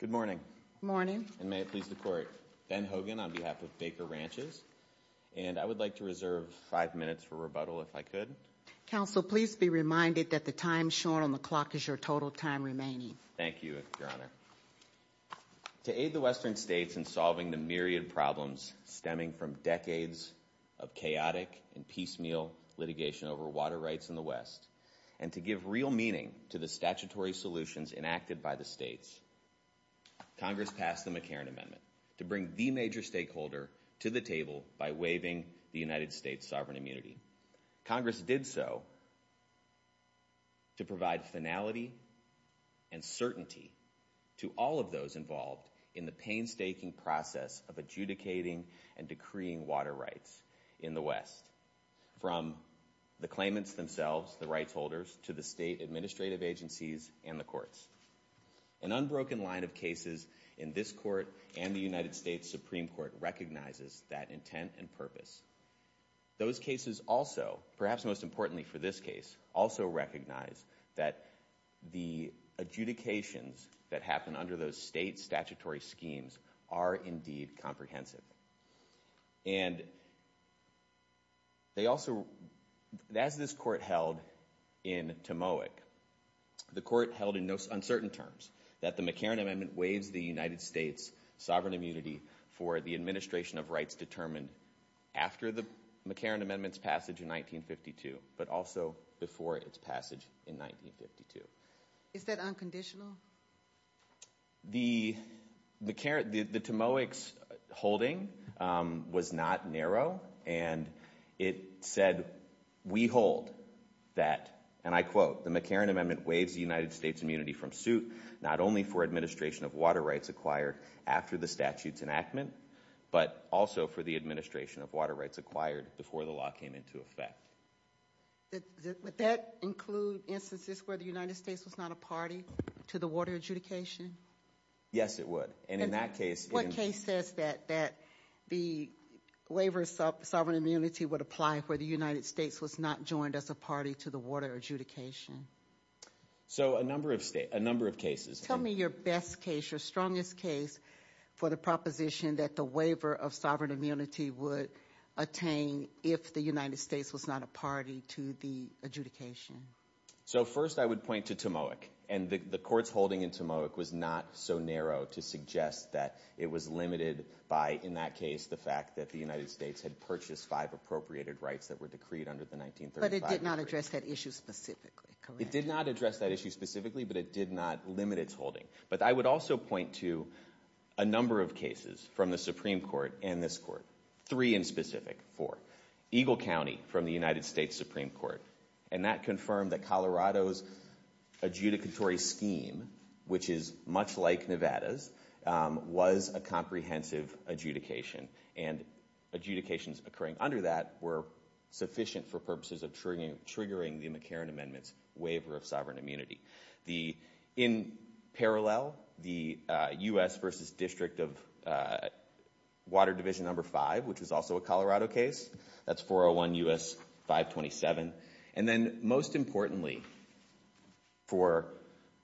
Good morning. And may it please the Court, Ben Hogan on behalf of Baker Ranches, and I would like to reserve five minutes for rebuttal if I could. Counsel, please be reminded that the time shown on the clock is your total time remaining. Thank you, Your Honor. To aid the Western states in solving the myriad problems stemming from decades of chaotic and piecemeal litigation over water rights in the West, and to give real meaning to the Congress passed the McCarran Amendment to bring the major stakeholder to the table by waiving the United States' sovereign immunity. Congress did so to provide finality and certainty to all of those involved in the painstaking process of adjudicating and decreeing water rights in the West, from the claimants themselves, the rights holders, to the state administrative agencies and the courts. An unbroken line of cases in this Court and the United States Supreme Court recognizes that intent and purpose. Those cases also, perhaps most importantly for this case, also recognize that the adjudications that happen under those state statutory schemes are indeed comprehensive. And they also, as this Court held in Timowick, the Court held in uncertain terms that the McCarran Amendment waives the United States' sovereign immunity for the administration of rights determined after the McCarran Amendment's passage in 1952, but also before its passage in 1952. Is that unconditional? The McCarran, the Timowick's holding was not narrow. And it said, we hold that, and I quote, the McCarran Amendment waives the United States' immunity from suit, not only for administration of water rights acquired after the statute's enactment, but also for the administration of water rights acquired before the law came into effect. Would that include instances where the United States was not a party to the water adjudication? Yes, it would. And in that case— What case says that the waiver of sovereign immunity would apply where the United States was not joined as a party to the water adjudication? So, a number of cases. Tell me your best case, your strongest case for the proposition that the waiver of sovereign immunity was not a party to the adjudication. So, first, I would point to Timowick. And the court's holding in Timowick was not so narrow to suggest that it was limited by, in that case, the fact that the United States had purchased five appropriated rights that were decreed under the 1935— But it did not address that issue specifically, correct? It did not address that issue specifically, but it did not limit its holding. But I would also point to a number of cases from the Supreme Court and this court, three in specific, four. Eagle County from the United States Supreme Court. And that confirmed that Colorado's adjudicatory scheme, which is much like Nevada's, was a comprehensive adjudication. And adjudications occurring under that were sufficient for purposes of triggering the McCarran Amendment's waiver of sovereign immunity. In parallel, the U.S. v. District of Water Division No. 5, which was also a Colorado case, that's 401 U.S. 527. And then, most importantly, for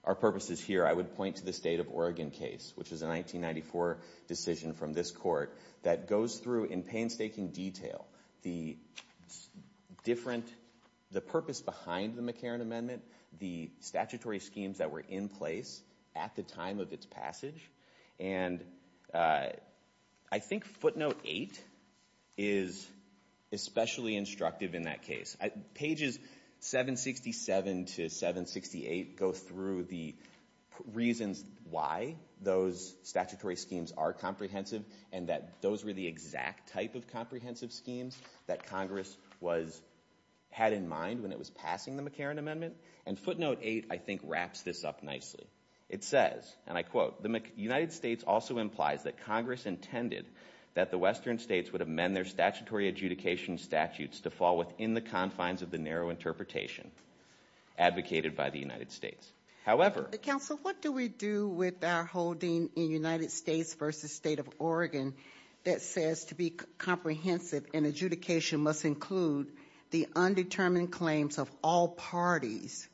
our purposes here, I would point to the State of Oregon case, which is a 1994 decision from this court that goes through, in painstaking detail, the purpose behind the McCarran Amendment, the statutory schemes that were in place at the time of its passage. And I think footnote 8 is especially instructive in that case. Pages 767 to 768 go through the reasons why those statutory schemes are comprehensive and that those were the exact type of comprehensive schemes that Congress had in mind when it was passing the McCarran Amendment. And footnote 8, I think, wraps this up nicely. It says, and I quote, the United States also implies that Congress intended that the western states would amend their statutory adjudication statutes to fall within the confines of the narrow interpretation advocated by the United States. However... Counsel, what do we do with our holding in United States v. State of Oregon that says to be comprehensive, an adjudication must include the undetermined claims of all parties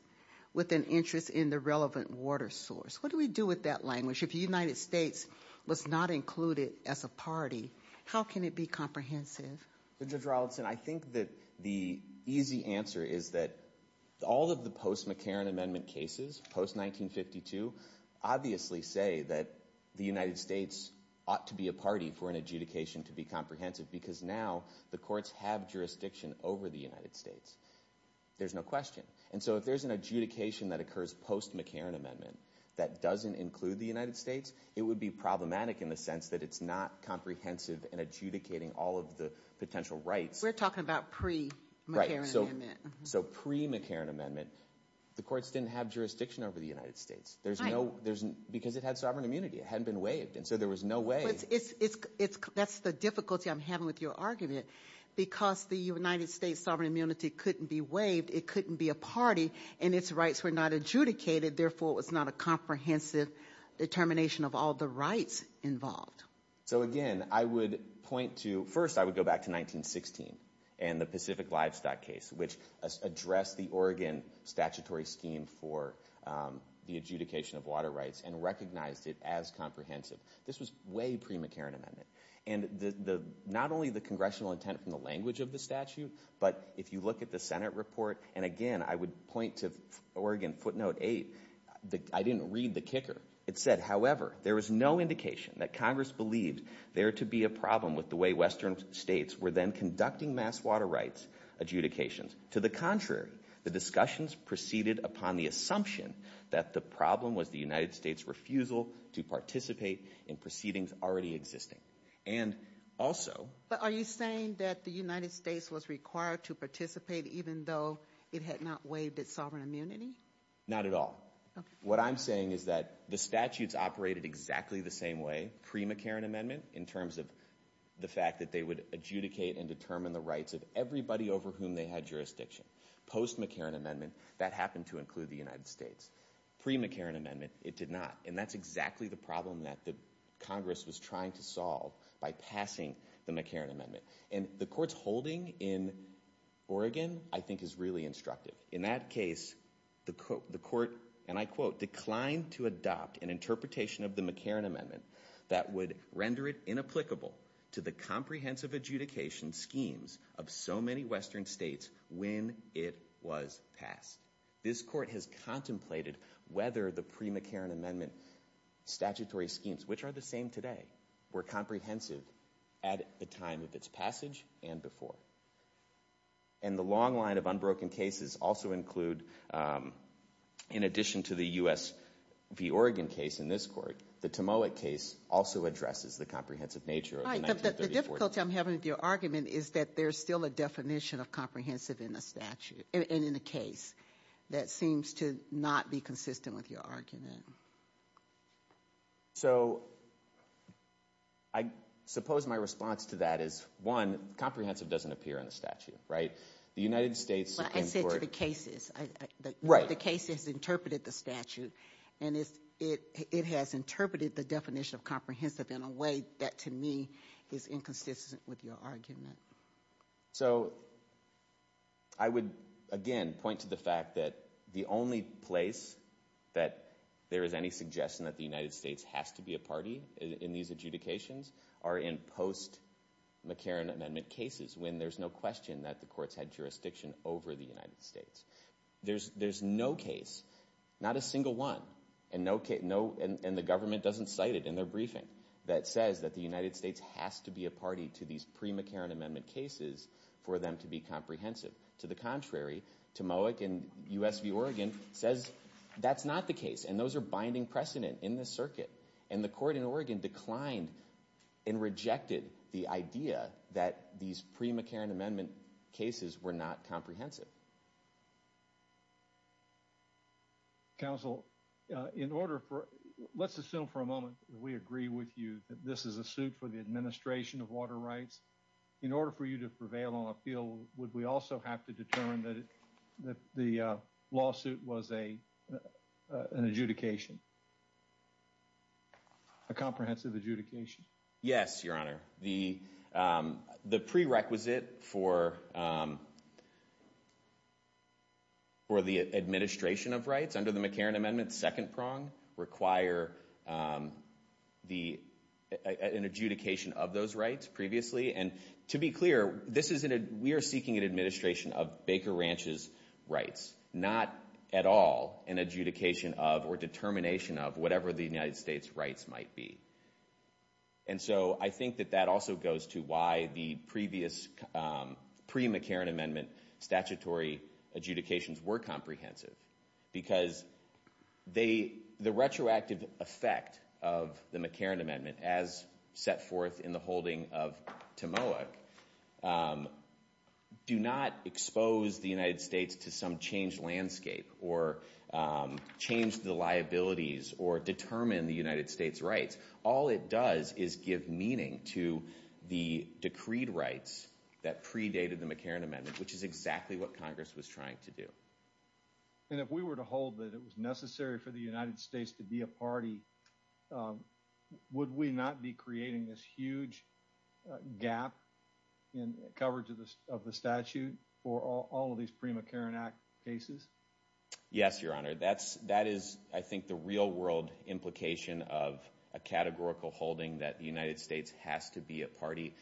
with an interest in the relevant water source? What do we do with that language? If the United States was not included as a party, how can it be comprehensive? Judge Rawlinson, I think that the easy answer is that all of the post-McCarran Amendment cases, post-1952, obviously say that the United States ought to be a party for an adjudication to be comprehensive because now the courts have jurisdiction over the United States. There's no question. And so if there's an adjudication that occurs post-McCarran Amendment that doesn't include the United States, it would be problematic in the sense that it's not comprehensive in adjudicating all of the potential rights. We're talking about pre-McCarran Amendment. Right. So pre-McCarran Amendment, the courts didn't have jurisdiction over the United States. Because it had sovereign immunity. It hadn't been waived. And so there was no way... That's the difficulty I'm having with your argument. Because the United States' sovereign immunity couldn't be waived, it couldn't be a party, and its rights were not adjudicated, therefore it was not a comprehensive determination of all the rights involved. So again, I would point to... First, I would go back to 1916 and the Pacific Livestock case, which addressed the Oregon statutory scheme for the adjudication of water rights and recognized it as comprehensive. This was way pre-McCarran Amendment. And not only the congressional intent from the language of the statute, but if you look at the Senate report, and again, I would point to Oregon footnote 8. I didn't read the kicker. It said, however, there was no indication that Congress believed there to be a problem with the way Western states were then conducting mass water rights adjudications. To the contrary, the discussions proceeded upon the assumption that the problem was the But are you saying that the United States was required to participate even though it had not waived its sovereign immunity? Not at all. Okay. What I'm saying is that the statutes operated exactly the same way pre-McCarran Amendment in terms of the fact that they would adjudicate and determine the rights of everybody over whom they had jurisdiction. Post-McCarran Amendment, that happened to include the United States. Pre-McCarran Amendment, it did not. And that's exactly the problem that Congress was trying to solve by passing the McCarran Amendment. And the court's holding in Oregon, I think, is really instructive. In that case, the court, and I quote, declined to adopt an interpretation of the McCarran Amendment that would render it inapplicable to the comprehensive adjudication schemes of so many Western states when it was passed. This court has contemplated whether the pre-McCarran Amendment statutory schemes, which are the same today, were comprehensive at the time of its passage and before. And the long line of unbroken cases also include, in addition to the U.S. v. Oregon case in this court, the Timowick case also addresses the comprehensive nature of the 1934 statute. Right, but the difficulty I'm having with your argument is that there's still a definition of comprehensive in the statute, and in the case, that seems to not be consistent with your argument. So, I suppose my response to that is, one, comprehensive doesn't appear in the statute, right? The United States— But I said to the cases. Right. The case has interpreted the statute, and it has interpreted the definition of comprehensive in a way that, to me, is inconsistent with your argument. So, I would, again, point to the fact that the only place that there is any suggestion that the United States has to be a party in these adjudications are in post-McCarran Amendment cases, when there's no question that the courts had jurisdiction over the United States. There's no case, not a single one, and the government doesn't cite it in their briefing, that says that the United States has to be a party to these pre-McCarran Amendment cases for them to be comprehensive. To the contrary, Tomoak and U.S. v. Oregon says that's not the case, and those are binding precedent in this circuit, and the court in Oregon declined and rejected the idea that these pre-McCarran Amendment cases were not comprehensive. Counsel, let's assume for a moment that we agree with you that this is a suit for the administration of water rights. In order for you to prevail on appeal, would we also have to determine that the lawsuit was an adjudication, a comprehensive adjudication? Yes, Your Honor. The prerequisite for the administration of rights under the McCarran Amendment, second prong, require an adjudication of those rights previously, and to be clear, we are seeking an administration of Baker Ranch's rights, not at all an adjudication of or determination of whatever the United States' rights might be. And so I think that that also goes to why the previous pre-McCarran Amendment statutory adjudications were comprehensive, because the retroactive effect of the McCarran Amendment as set forth in the holding of Tomoak do not expose the United States to some changed landscape or changed the liabilities or determine the United States' rights. All it does is give meaning to the decreed rights that predated the McCarran Amendment, which is exactly what Congress was trying to do. And if we were to hold that it was necessary for the United States to be a party, would we not be creating this huge gap in coverage of the statute for all of these pre-McCarran Act cases? Yes, Your Honor. That is, I think, the real world implication of a categorical holding that the United States has to be a party.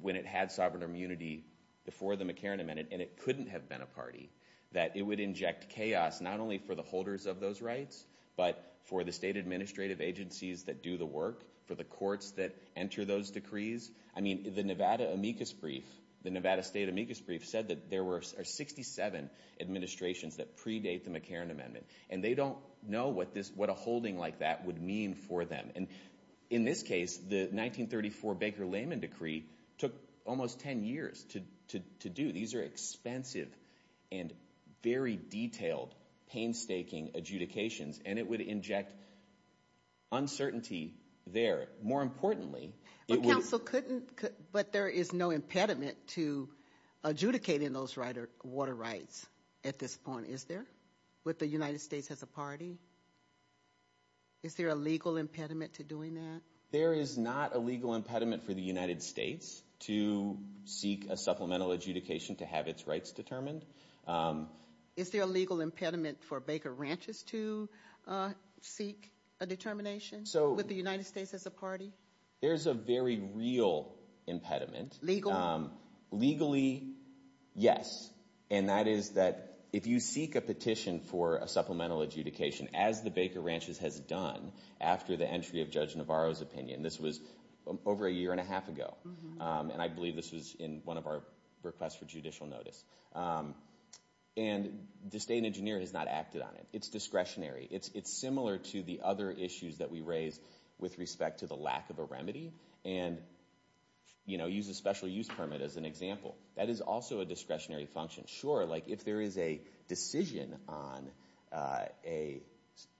When it had sovereign immunity before the McCarran Amendment, and it couldn't have been a party, that it would inject chaos not only for the holders of those rights, but for the state administrative agencies that do the work, for the courts that enter those decrees. I mean, the Nevada amicus brief, the Nevada state amicus brief said that there were 67 administrations that predate the McCarran Amendment, and they don't know what a holding like that would mean for them. And in this case, the 1934 Baker-Layman Decree took almost 10 years to do. These are expensive and very detailed, painstaking adjudications, and it would inject uncertainty there. More importantly, it would... at this point, is there, with the United States as a party? Is there a legal impediment to doing that? There is not a legal impediment for the United States to seek a supplemental adjudication to have its rights determined. Is there a legal impediment for Baker Ranches to seek a determination with the United States as a party? There's a very real impediment. Legal? Legally, yes. And that is that if you seek a petition for a supplemental adjudication, as the Baker Ranches has done after the entry of Judge Navarro's opinion, this was over a year and a half ago, and I believe this was in one of our requests for judicial notice, and the state engineer has not acted on it. It's discretionary. It's similar to the other issues that we raised with respect to the lack of a remedy, and use a special use permit as an example. That is also a discretionary function. Sure, if there is a decision on an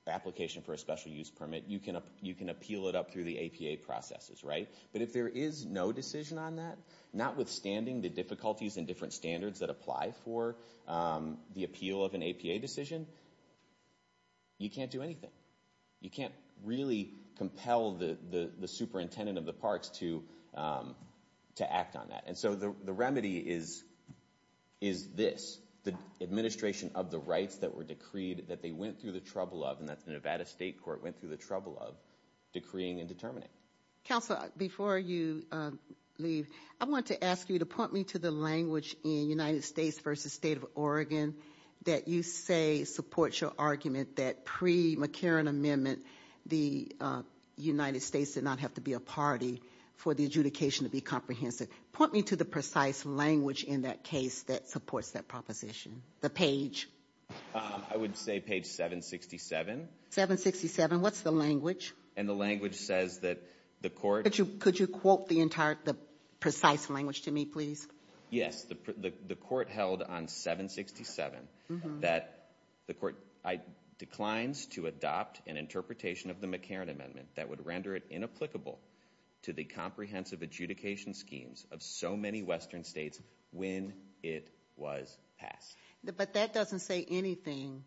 application for a special use permit, you can appeal it up through the APA processes, right? But if there is no decision on that, notwithstanding the difficulties and different standards that apply for the appeal of an APA decision, you can't do anything. You can't really compel the superintendent of the parks to act on that. And so the remedy is this, the administration of the rights that were decreed, that they went through the trouble of, and that's the Nevada State Court went through the trouble of, decreeing and determining. Counselor, before you leave, I wanted to ask you to point me to the language in United States did not have to be a party for the adjudication to be comprehensive. Point me to the precise language in that case that supports that proposition, the page. I would say page 767. 767, what's the language? And the language says that the court... Could you quote the precise language to me, please? Yes, the court held on 767 that the court declines to adopt an interpretation of the McCarran Amendment that would render it inapplicable to the comprehensive adjudication schemes of so many Western states when it was passed. But that doesn't say anything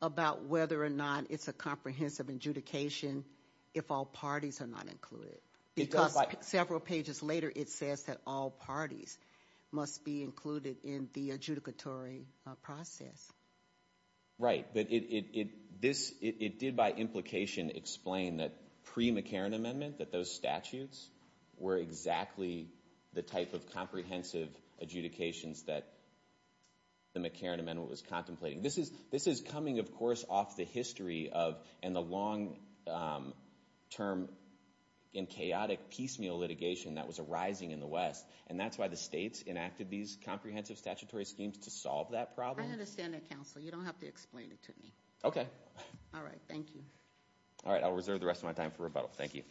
about whether or not it's a comprehensive adjudication if all parties are not included. Because several pages later it says that all parties must be included in the adjudicatory process. Right, but it did by implication explain that pre-McCarran Amendment that those statutes were exactly the type of comprehensive adjudications that the McCarran Amendment was contemplating. This is coming, of course, off the history and the long-term and chaotic piecemeal litigation that was arising in the West. And that's why the states enacted these comprehensive statutory schemes to solve that problem. I understand that, counsel. You don't have to explain it to me. Okay. All right, thank you. All right, I'll reserve the rest of my time for rebuttal. Thank you.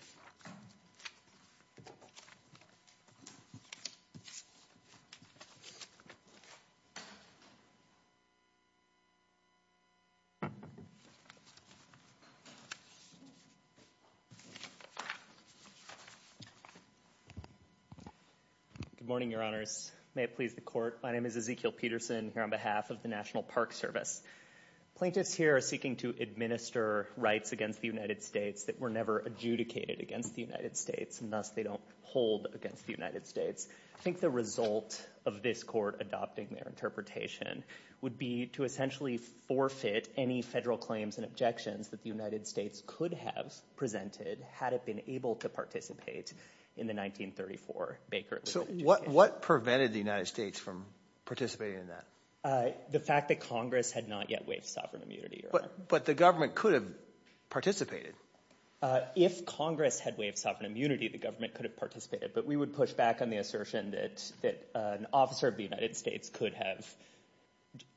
Good morning, Your Honors. May it please the Court. My name is Ezekiel Peterson here on behalf of the National Park Service. Plaintiffs here are seeking to administer rights against the United States that were never adjudicated against the United States, and thus they don't hold against the United States. I think the result of this Court adopting their interpretation would be to essentially forfeit any federal claims and objections that the United States could have presented had it been able to participate in the 1934 Baker Adjudication. So what prevented the United States from participating in that? The fact that Congress had not yet waived sovereign immunity, Your Honor. But the government could have participated. If Congress had waived sovereign immunity, the government could have participated, but we would push back on the assertion that an officer of the United States could have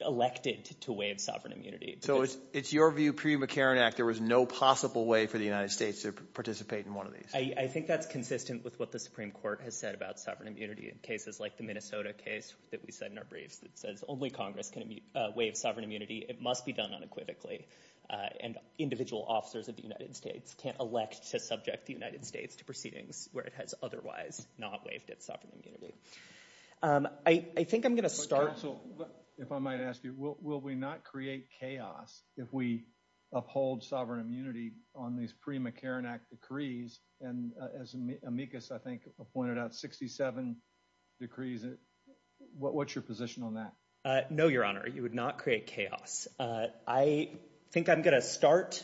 elected to waive sovereign immunity. So it's your view pre-McCarran Act there was no possible way for the United States to participate in one of these? I think that's consistent with what the Supreme Court has said about sovereign immunity in cases like the Minnesota case that we said in our briefs that says only Congress can waive sovereign immunity. It must be done unequivocally, and individual officers of the United States can't elect to subject the United States to proceedings where it has otherwise not waived its sovereign immunity. I think I'm going to start... Counsel, if I might ask you, will we not create chaos if we uphold sovereign immunity on these pre-McCarran Act decrees? And as Amicus, I think, pointed out, 67 decrees. What's your position on that? No, Your Honor, you would not create chaos. I think I'm going to start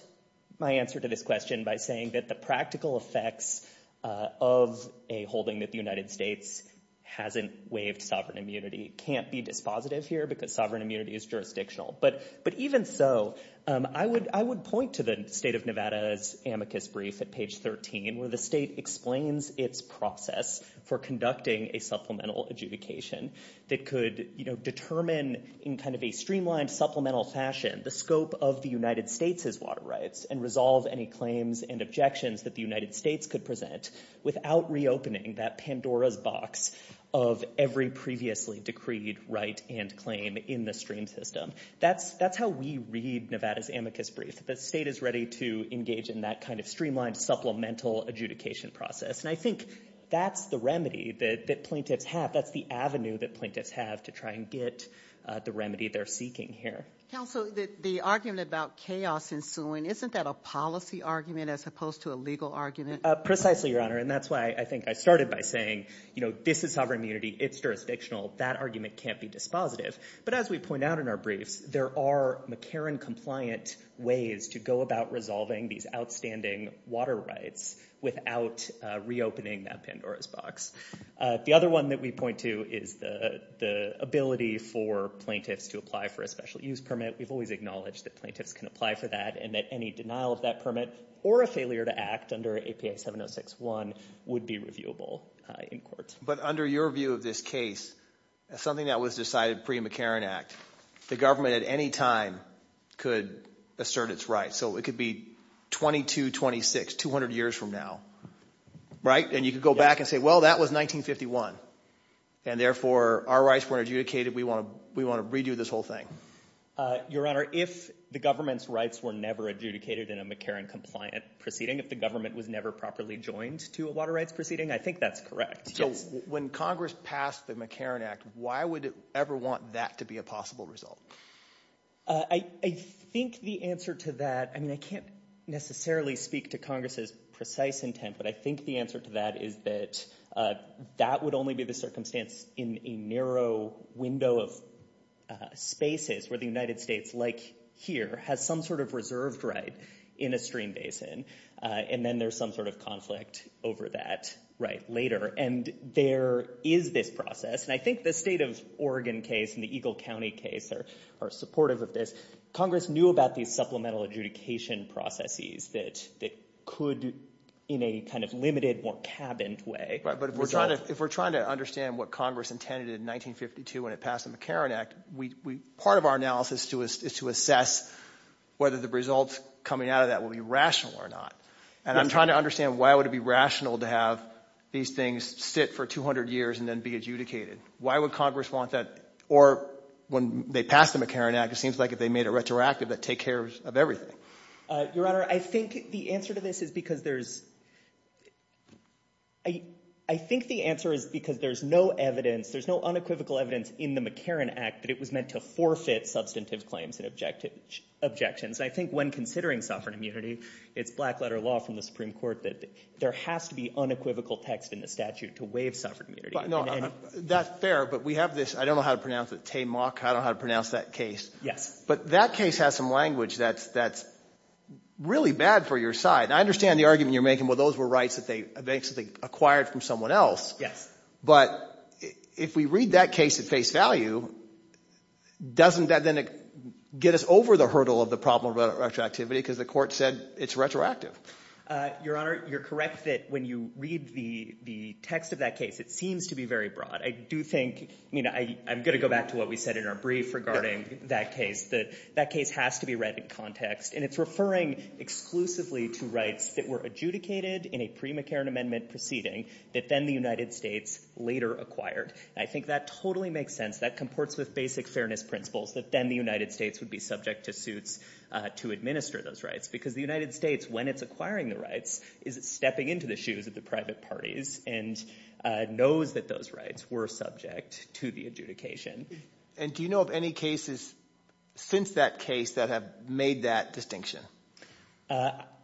my answer to this question by saying that the practical effects of a holding that the United States hasn't waived sovereign immunity can't be dispositive here because sovereign immunity is jurisdictional. But even so, I would point to the State of Nevada's Amicus brief at page 13 where the state explains its process for conducting a supplemental adjudication that could determine in kind of a streamlined supplemental fashion the scope of the United States' water rights and resolve any claims and objections that the United States could present without reopening that Pandora's box of every previously decreed right and claim in the stream system. That's how we read Nevada's Amicus brief. The state is ready to engage in that kind of streamlined supplemental adjudication process. And I think that's the remedy that plaintiffs have. That's the avenue that plaintiffs have to try and get the remedy they're seeking here. Counsel, the argument about chaos ensuing, isn't that a policy argument as opposed to a legal argument? Precisely, Your Honor. And that's why I think I started by saying, you know, this is sovereign immunity. It's jurisdictional. That argument can't be dispositive. But as we point out in our briefs, there are McCarran-compliant ways to go about resolving these outstanding water rights without reopening that Pandora's box. The other one that we point to is the ability for plaintiffs to apply for a special use permit. We've always acknowledged that plaintiffs can apply for that and that any denial of that permit or a failure to act under APA 706-1 would be reviewable in court. But under your view of this case, something that was decided pre-McCarran Act, the government at any time could assert its rights. So it could be 2226, 200 years from now, right? And you could go back and say, well, that was 1951, and therefore our rights weren't adjudicated. We want to redo this whole thing. Your Honor, if the government's rights were never adjudicated in a McCarran-compliant proceeding, if the government was never properly joined to a water rights proceeding, I think that's correct. So when Congress passed the McCarran Act, why would it ever want that to be a possible result? I think the answer to that, I mean I can't necessarily speak to Congress's precise intent, but I think the answer to that is that that would only be the circumstance in a narrow window of spaces where the United States, like here, has some sort of reserved right in a stream basin, and then there's some sort of conflict over that right later. And there is this process, and I think the state of Oregon case and the Eagle County case are supportive of this. Congress knew about these supplemental adjudication processes that could in a kind of limited, more cabined way. But if we're trying to understand what Congress intended in 1952 when it passed the McCarran Act, part of our analysis is to assess whether the results coming out of that will be rational or not. And I'm trying to understand why it would be rational to have these things sit for 200 years and then be adjudicated. Why would Congress want that? Or when they passed the McCarran Act, it seems like they made it retroactive to take care of everything. Your Honor, I think the answer to this is because there's no evidence, there's no unequivocal evidence in the McCarran Act that it was meant to forfeit substantive claims and objections. I think when considering sovereign immunity, it's black letter law from the Supreme Court that there has to be unequivocal text in the statute to waive sovereign immunity. No, that's fair, but we have this, I don't know how to pronounce it, TAMOC, I don't know how to pronounce that case. Yes. But that case has some language that's really bad for your side. I understand the argument you're making, well, those were rights that they acquired from someone else. Yes. But if we read that case at face value, doesn't that then get us over the hurdle of the problem of retroactivity because the court said it's retroactive? Your Honor, you're correct that when you read the text of that case, it seems to be very broad. I do think, I'm going to go back to what we said in our brief regarding that case. That case has to be read in context, and it's referring exclusively to rights that were adjudicated in a pre-McCarran Amendment proceeding that then the United States later acquired. I think that totally makes sense. That comports with basic fairness principles that then the United States would be subject to suits to administer those rights because the United States, when it's acquiring the rights, is stepping into the shoes of the private parties and knows that those rights were subject to the adjudication. And do you know of any cases since that case that have made that distinction?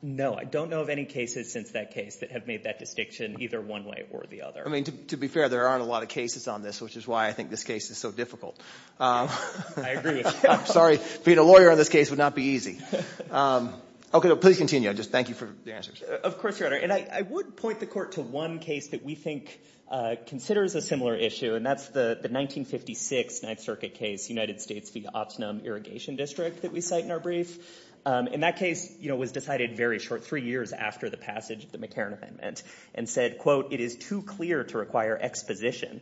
No, I don't know of any cases since that case that have made that distinction either one way or the other. I mean to be fair, there aren't a lot of cases on this, which is why I think this case is so difficult. I agree with you. I'm sorry. Being a lawyer on this case would not be easy. Okay, please continue. I just thank you for the answers. Of course, Your Honor. And I would point the Court to one case that we think considers a similar issue, and that's the 1956 Ninth Circuit case, United States v. Oxnum Irrigation District that we cite in our brief. And that case was decided very short, three years after the passage of the McCarran Amendment, and said, quote, it is too clear to require exposition,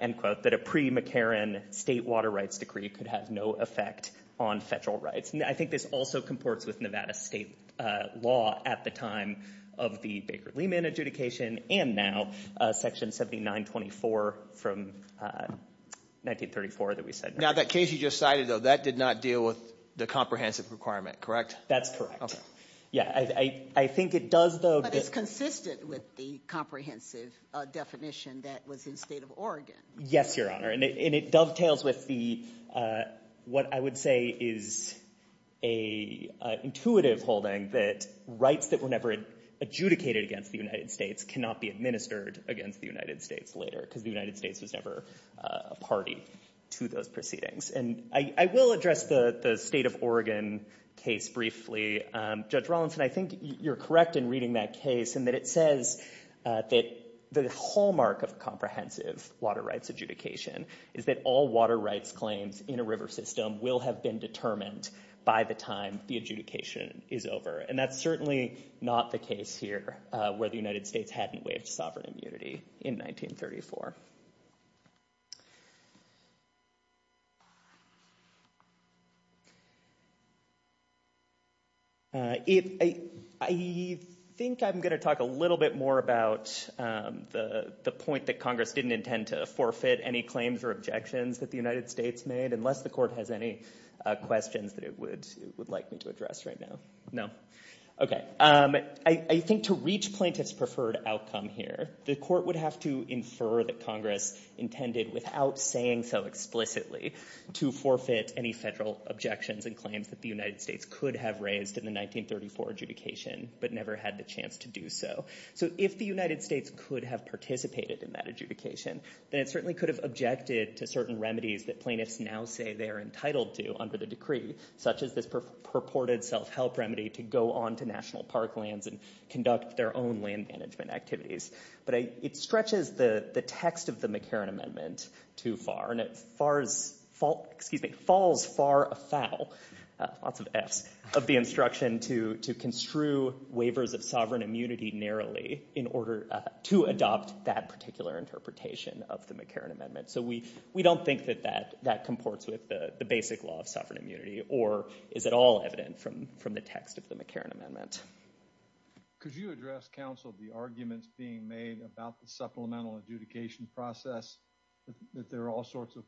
end quote, that a pre-McCarran state water rights decree could have no effect on federal rights. And I think this also comports with Nevada state law at the time of the Baker-Lehman adjudication and now Section 7924 from 1934 that we cite. Now that case you just cited, though, that did not deal with the comprehensive requirement, correct? That's correct. Yeah, I think it does, though. But it's consistent with the comprehensive definition that was in the state of Oregon. Yes, Your Honor, and it dovetails with what I would say is an intuitive holding that rights that were never adjudicated against the United States cannot be administered against the United States later because the United States was never a party to those proceedings. And I will address the state of Oregon case briefly. Judge Rawlinson, I think you're correct in reading that case in that it says that the hallmark of comprehensive water rights adjudication is that all water rights claims in a river system will have been determined by the time the adjudication is over, and that's certainly not the case here where the United States hadn't waived sovereign immunity in 1934. I think I'm going to talk a little bit more about the point that Congress didn't intend to forfeit any claims or objections that the United States made, unless the Court has any questions that it would like me to address right now. No? Okay. I think to reach plaintiff's preferred outcome here, the Court would have to infer that Congress intended, without saying so explicitly, to forfeit any federal objections and claims that the United States could have raised in the 1934 adjudication, but never had the chance to do so. So if the United States could have participated in that adjudication, then it certainly could have objected to certain remedies that plaintiffs now say they're entitled to under the decree, such as this purported self-help remedy to go on to national park lands and conduct their own land management activities. But it stretches the text of the McCarran Amendment too far, and it falls far afoul of the instruction to construe waivers of sovereign immunity narrowly in order to adopt that particular interpretation of the McCarran Amendment. So we don't think that that comports with the basic law of sovereign immunity, or is at all evident from the text of the McCarran Amendment. Could you address, counsel, the arguments being made about the supplemental adjudication process, that there are all sorts of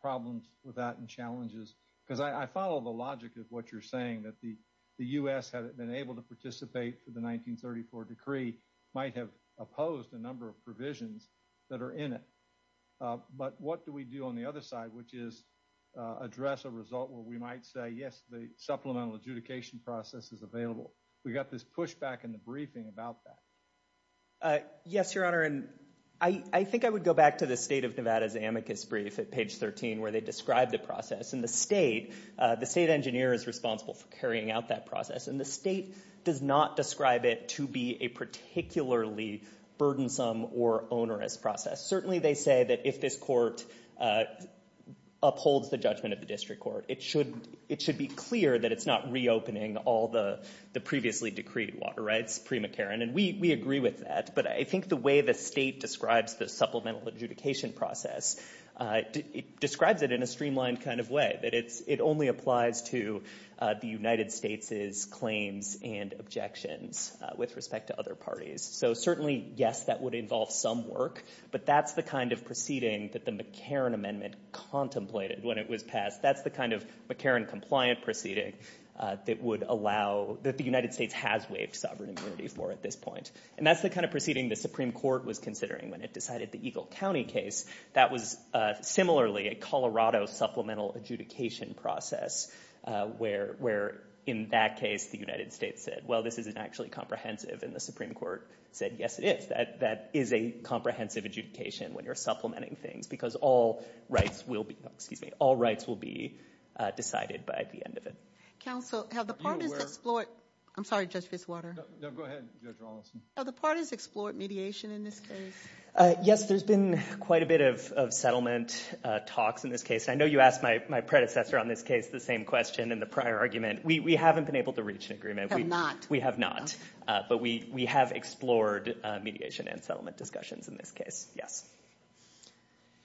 problems with that and challenges? Because I follow the logic of what you're saying, that the U.S., had it been able to participate in the 1934 decree, might have opposed a number of provisions that are in it. But what do we do on the other side, which is address a result where we might say, yes, the supplemental adjudication process is available? We've got this pushback in the briefing about that. Yes, Your Honor, and I think I would go back to the State of Nevada's amicus brief at page 13, where they describe the process, and the state engineer is responsible for carrying out that process, and the state does not describe it to be a particularly burdensome or onerous process. Certainly they say that if this court upholds the judgment of the district court, it should be clear that it's not reopening all the previously decreed water rights pre-McCarran, and we agree with that. But I think the way the state describes the supplemental adjudication process, it describes it in a streamlined kind of way, that it only applies to the United States' claims and objections with respect to other parties. So certainly, yes, that would involve some work, but that's the kind of proceeding that the McCarran Amendment contemplated when it was passed. That's the kind of McCarran-compliant proceeding that the United States has waived sovereign immunity for at this point. And that's the kind of proceeding the Supreme Court was considering when it decided the Eagle County case. That was similarly a Colorado supplemental adjudication process, where in that case the United States said, well, this isn't actually comprehensive, and the Supreme Court said, yes, it is. That is a comprehensive adjudication when you're supplementing things, because all rights will be decided by the end of it. Counsel, have the parties explored – I'm sorry, Judge Fitzwater. No, go ahead, Judge Rawlinson. Have the parties explored mediation in this case? Yes, there's been quite a bit of settlement talks in this case. I know you asked my predecessor on this case the same question in the prior argument. We haven't been able to reach an agreement. Have not. We have not. But we have explored mediation and settlement discussions in this case. Yes.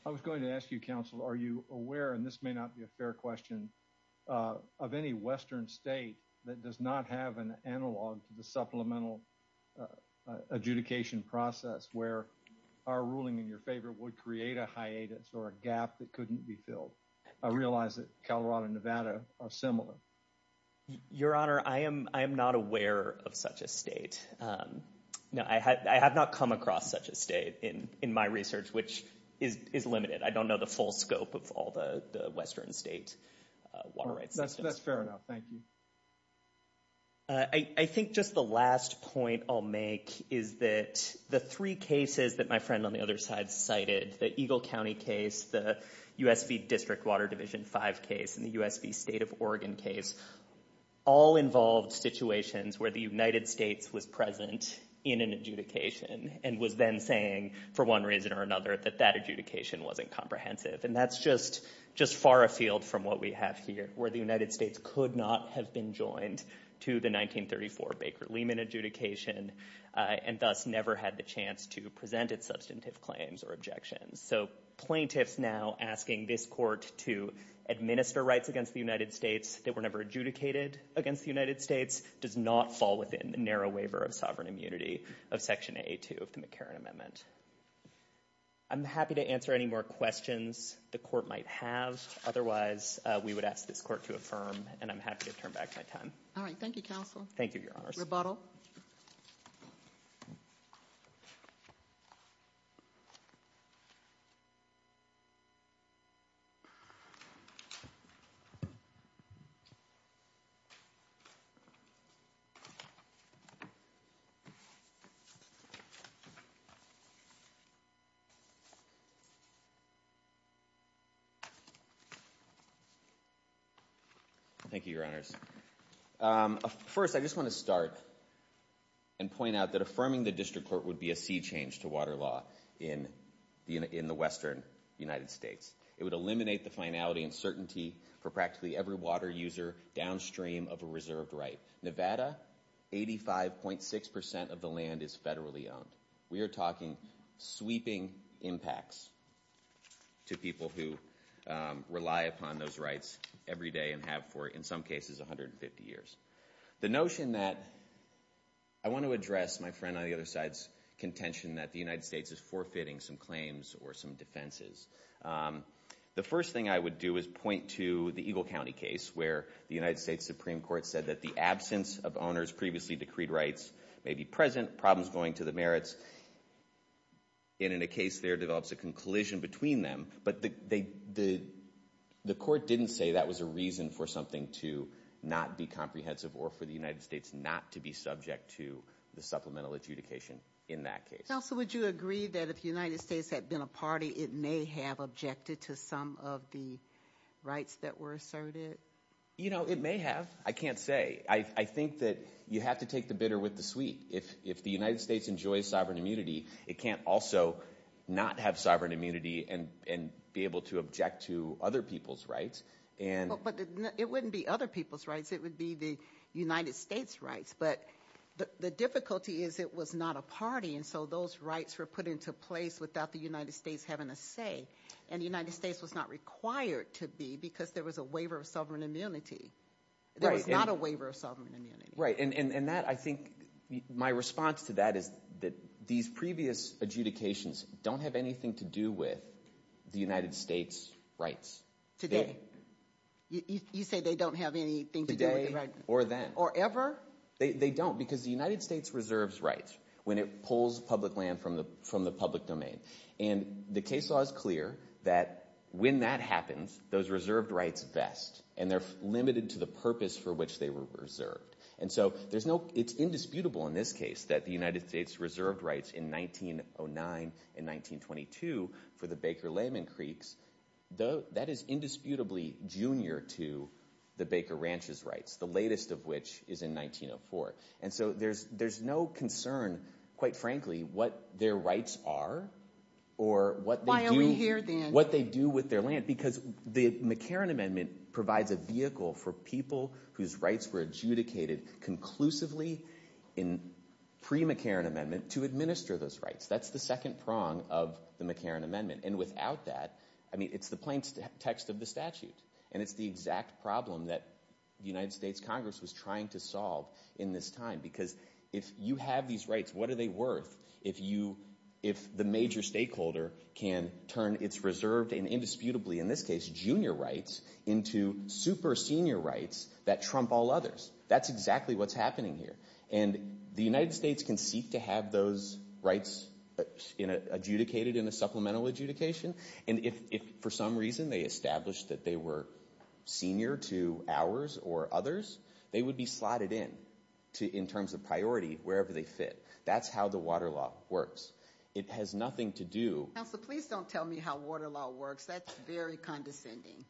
I was going to ask you, Counsel, are you aware – and this may not be a fair question – of any western state that does not have an analog to the supplemental adjudication process where our ruling in your favor would create a hiatus or a gap that couldn't be filled? I realize that Colorado and Nevada are similar. Your Honor, I am not aware of such a state. I have not come across such a state in my research, which is limited. I don't know the full scope of all the western state water rights systems. That's fair enough. Thank you. I think just the last point I'll make is that the three cases that my friend on the other side cited, the Eagle County case, the USV District Water Division 5 case, and the USV State of Oregon case, all involved situations where the United States was present in an adjudication and was then saying, for one reason or another, that that adjudication wasn't comprehensive. And that's just far afield from what we have here, where the United States could not have been joined to the 1934 Baker-Lehman adjudication and thus never had the chance to present its substantive claims or objections. So plaintiffs now asking this Court to administer rights against the United States that were never adjudicated against the United States does not fall within the narrow waiver of sovereign immunity of Section A2 of the McCarran Amendment. I'm happy to answer any more questions the Court might have. Otherwise, we would ask this Court to affirm, and I'm happy to turn back my time. All right. Thank you, Counsel. Thank you, Your Honors. Rebuttal. Thank you, Your Honors. First, I just want to start and point out that affirming the District Court would be a sea change to water law in the Western United States. It would eliminate the finality and certainty for practically every water user downstream of a reserved right. Nevada, 85.6% of the land is federally owned. We are talking sweeping impacts to people who rely upon those rights every day and have for, in some cases, 150 years. The notion that I want to address my friend on the other side's contention that the United States is forfeiting some claims or some defenses. The first thing I would do is point to the Eagle County case where the United States Supreme Court said that the absence of owners' previously decreed rights may be present, problems going to the merits, and in a case there develops a conclusion between them. But the court didn't say that was a reason for something to not be comprehensive or for the United States not to be subject to the supplemental adjudication in that case. Counsel, would you agree that if the United States had been a party, it may have objected to some of the rights that were asserted? You know, it may have. I can't say. I think that you have to take the bitter with the sweet. If the United States enjoys sovereign immunity, it can't also not have sovereign immunity and be able to object to other people's rights. But it wouldn't be other people's rights. It would be the United States' rights. But the difficulty is it was not a party, and so those rights were put into place without the United States having a say. And the United States was not required to be because there was a waiver of sovereign immunity. There was not a waiver of sovereign immunity. Right. And that, I think, my response to that is that these previous adjudications don't have anything to do with the United States' rights. Today? You say they don't have anything to do with the rights? Today or then. Or ever? They don't because the United States reserves rights when it pulls public land from the public domain. And the case law is clear that when that happens, those reserved rights vest, and they're limited to the purpose for which they were reserved. And so it's indisputable in this case that the United States reserved rights in 1909 and 1922 for the Baker-Layman Creeks, that is indisputably junior to the Baker Ranch's rights, the latest of which is in 1904. And so there's no concern, quite frankly, what their rights are or what they do with their land. Because the McCarran Amendment provides a vehicle for people whose rights were adjudicated conclusively in pre-McCarran Amendment to administer those rights. That's the second prong of the McCarran Amendment. And without that, I mean, it's the plain text of the statute, and it's the exact problem that the United States Congress was trying to solve in this time. Because if you have these rights, what are they worth if the major stakeholder can turn its reserved and indisputably, in this case, junior rights, into super senior rights that trump all others? That's exactly what's happening here. And the United States can seek to have those rights adjudicated in a supplemental adjudication, and if for some reason they establish that they were senior to ours or others, they would be slotted in, in terms of priority, wherever they fit. That's how the water law works. It has nothing to do— Counsel, please don't tell me how water law works. That's very condescending.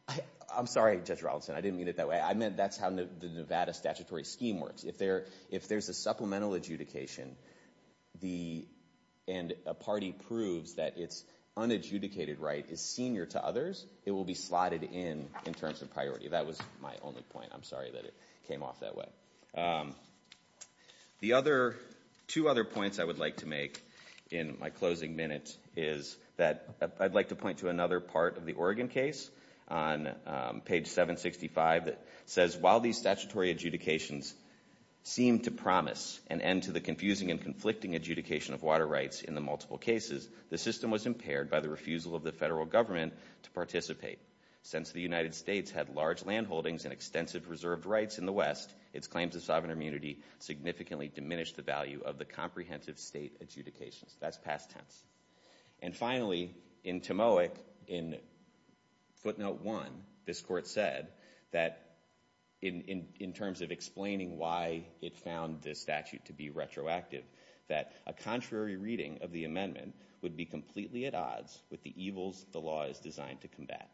I'm sorry, Judge Rollinson. I didn't mean it that way. I meant that's how the Nevada statutory scheme works. If there's a supplemental adjudication and a party proves that its unadjudicated right is senior to others, it will be slotted in, in terms of priority. That was my only point. I'm sorry that it came off that way. The other—two other points I would like to make in my closing minutes is that I'd like to point to another part of the Oregon case on page 765 that says, while these statutory adjudications seem to promise an end to the confusing and conflicting adjudication of water rights in the multiple cases, the system was impaired by the refusal of the federal government to participate. Since the United States had large land holdings and extensive reserved rights in the West, its claims of sovereign immunity significantly diminished the value of the comprehensive state adjudications. That's past tense. And finally, in Timowick, in footnote 1, this court said that, in terms of explaining why it found this statute to be retroactive, that a contrary reading of the amendment would be completely at odds with the evils the law is designed to combat.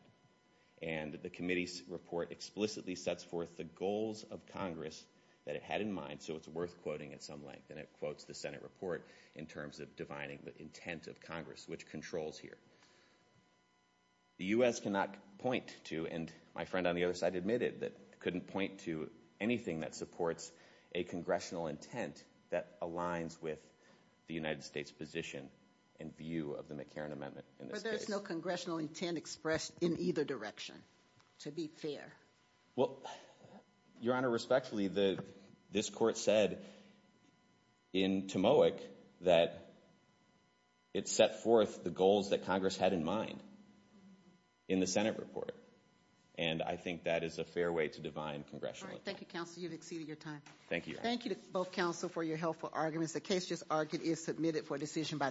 And the committee's report explicitly sets forth the goals of Congress that it had in mind, so it's worth quoting at some length. And it quotes the Senate report in terms of defining the intent of Congress, which controls here. The U.S. cannot point to—and my friend on the other side admitted that— couldn't point to anything that supports a congressional intent that aligns with the United States position and view of the McCarran Amendment in this case. There is no congressional intent expressed in either direction, to be fair. Well, Your Honor, respectfully, this court said, in Timowick, that it set forth the goals that Congress had in mind in the Senate report. And I think that is a fair way to define congressional intent. All right, thank you, counsel. You've exceeded your time. Thank you, Your Honor. Thank you to both counsel for your helpful arguments. The case just argued is submitted for decision by the court.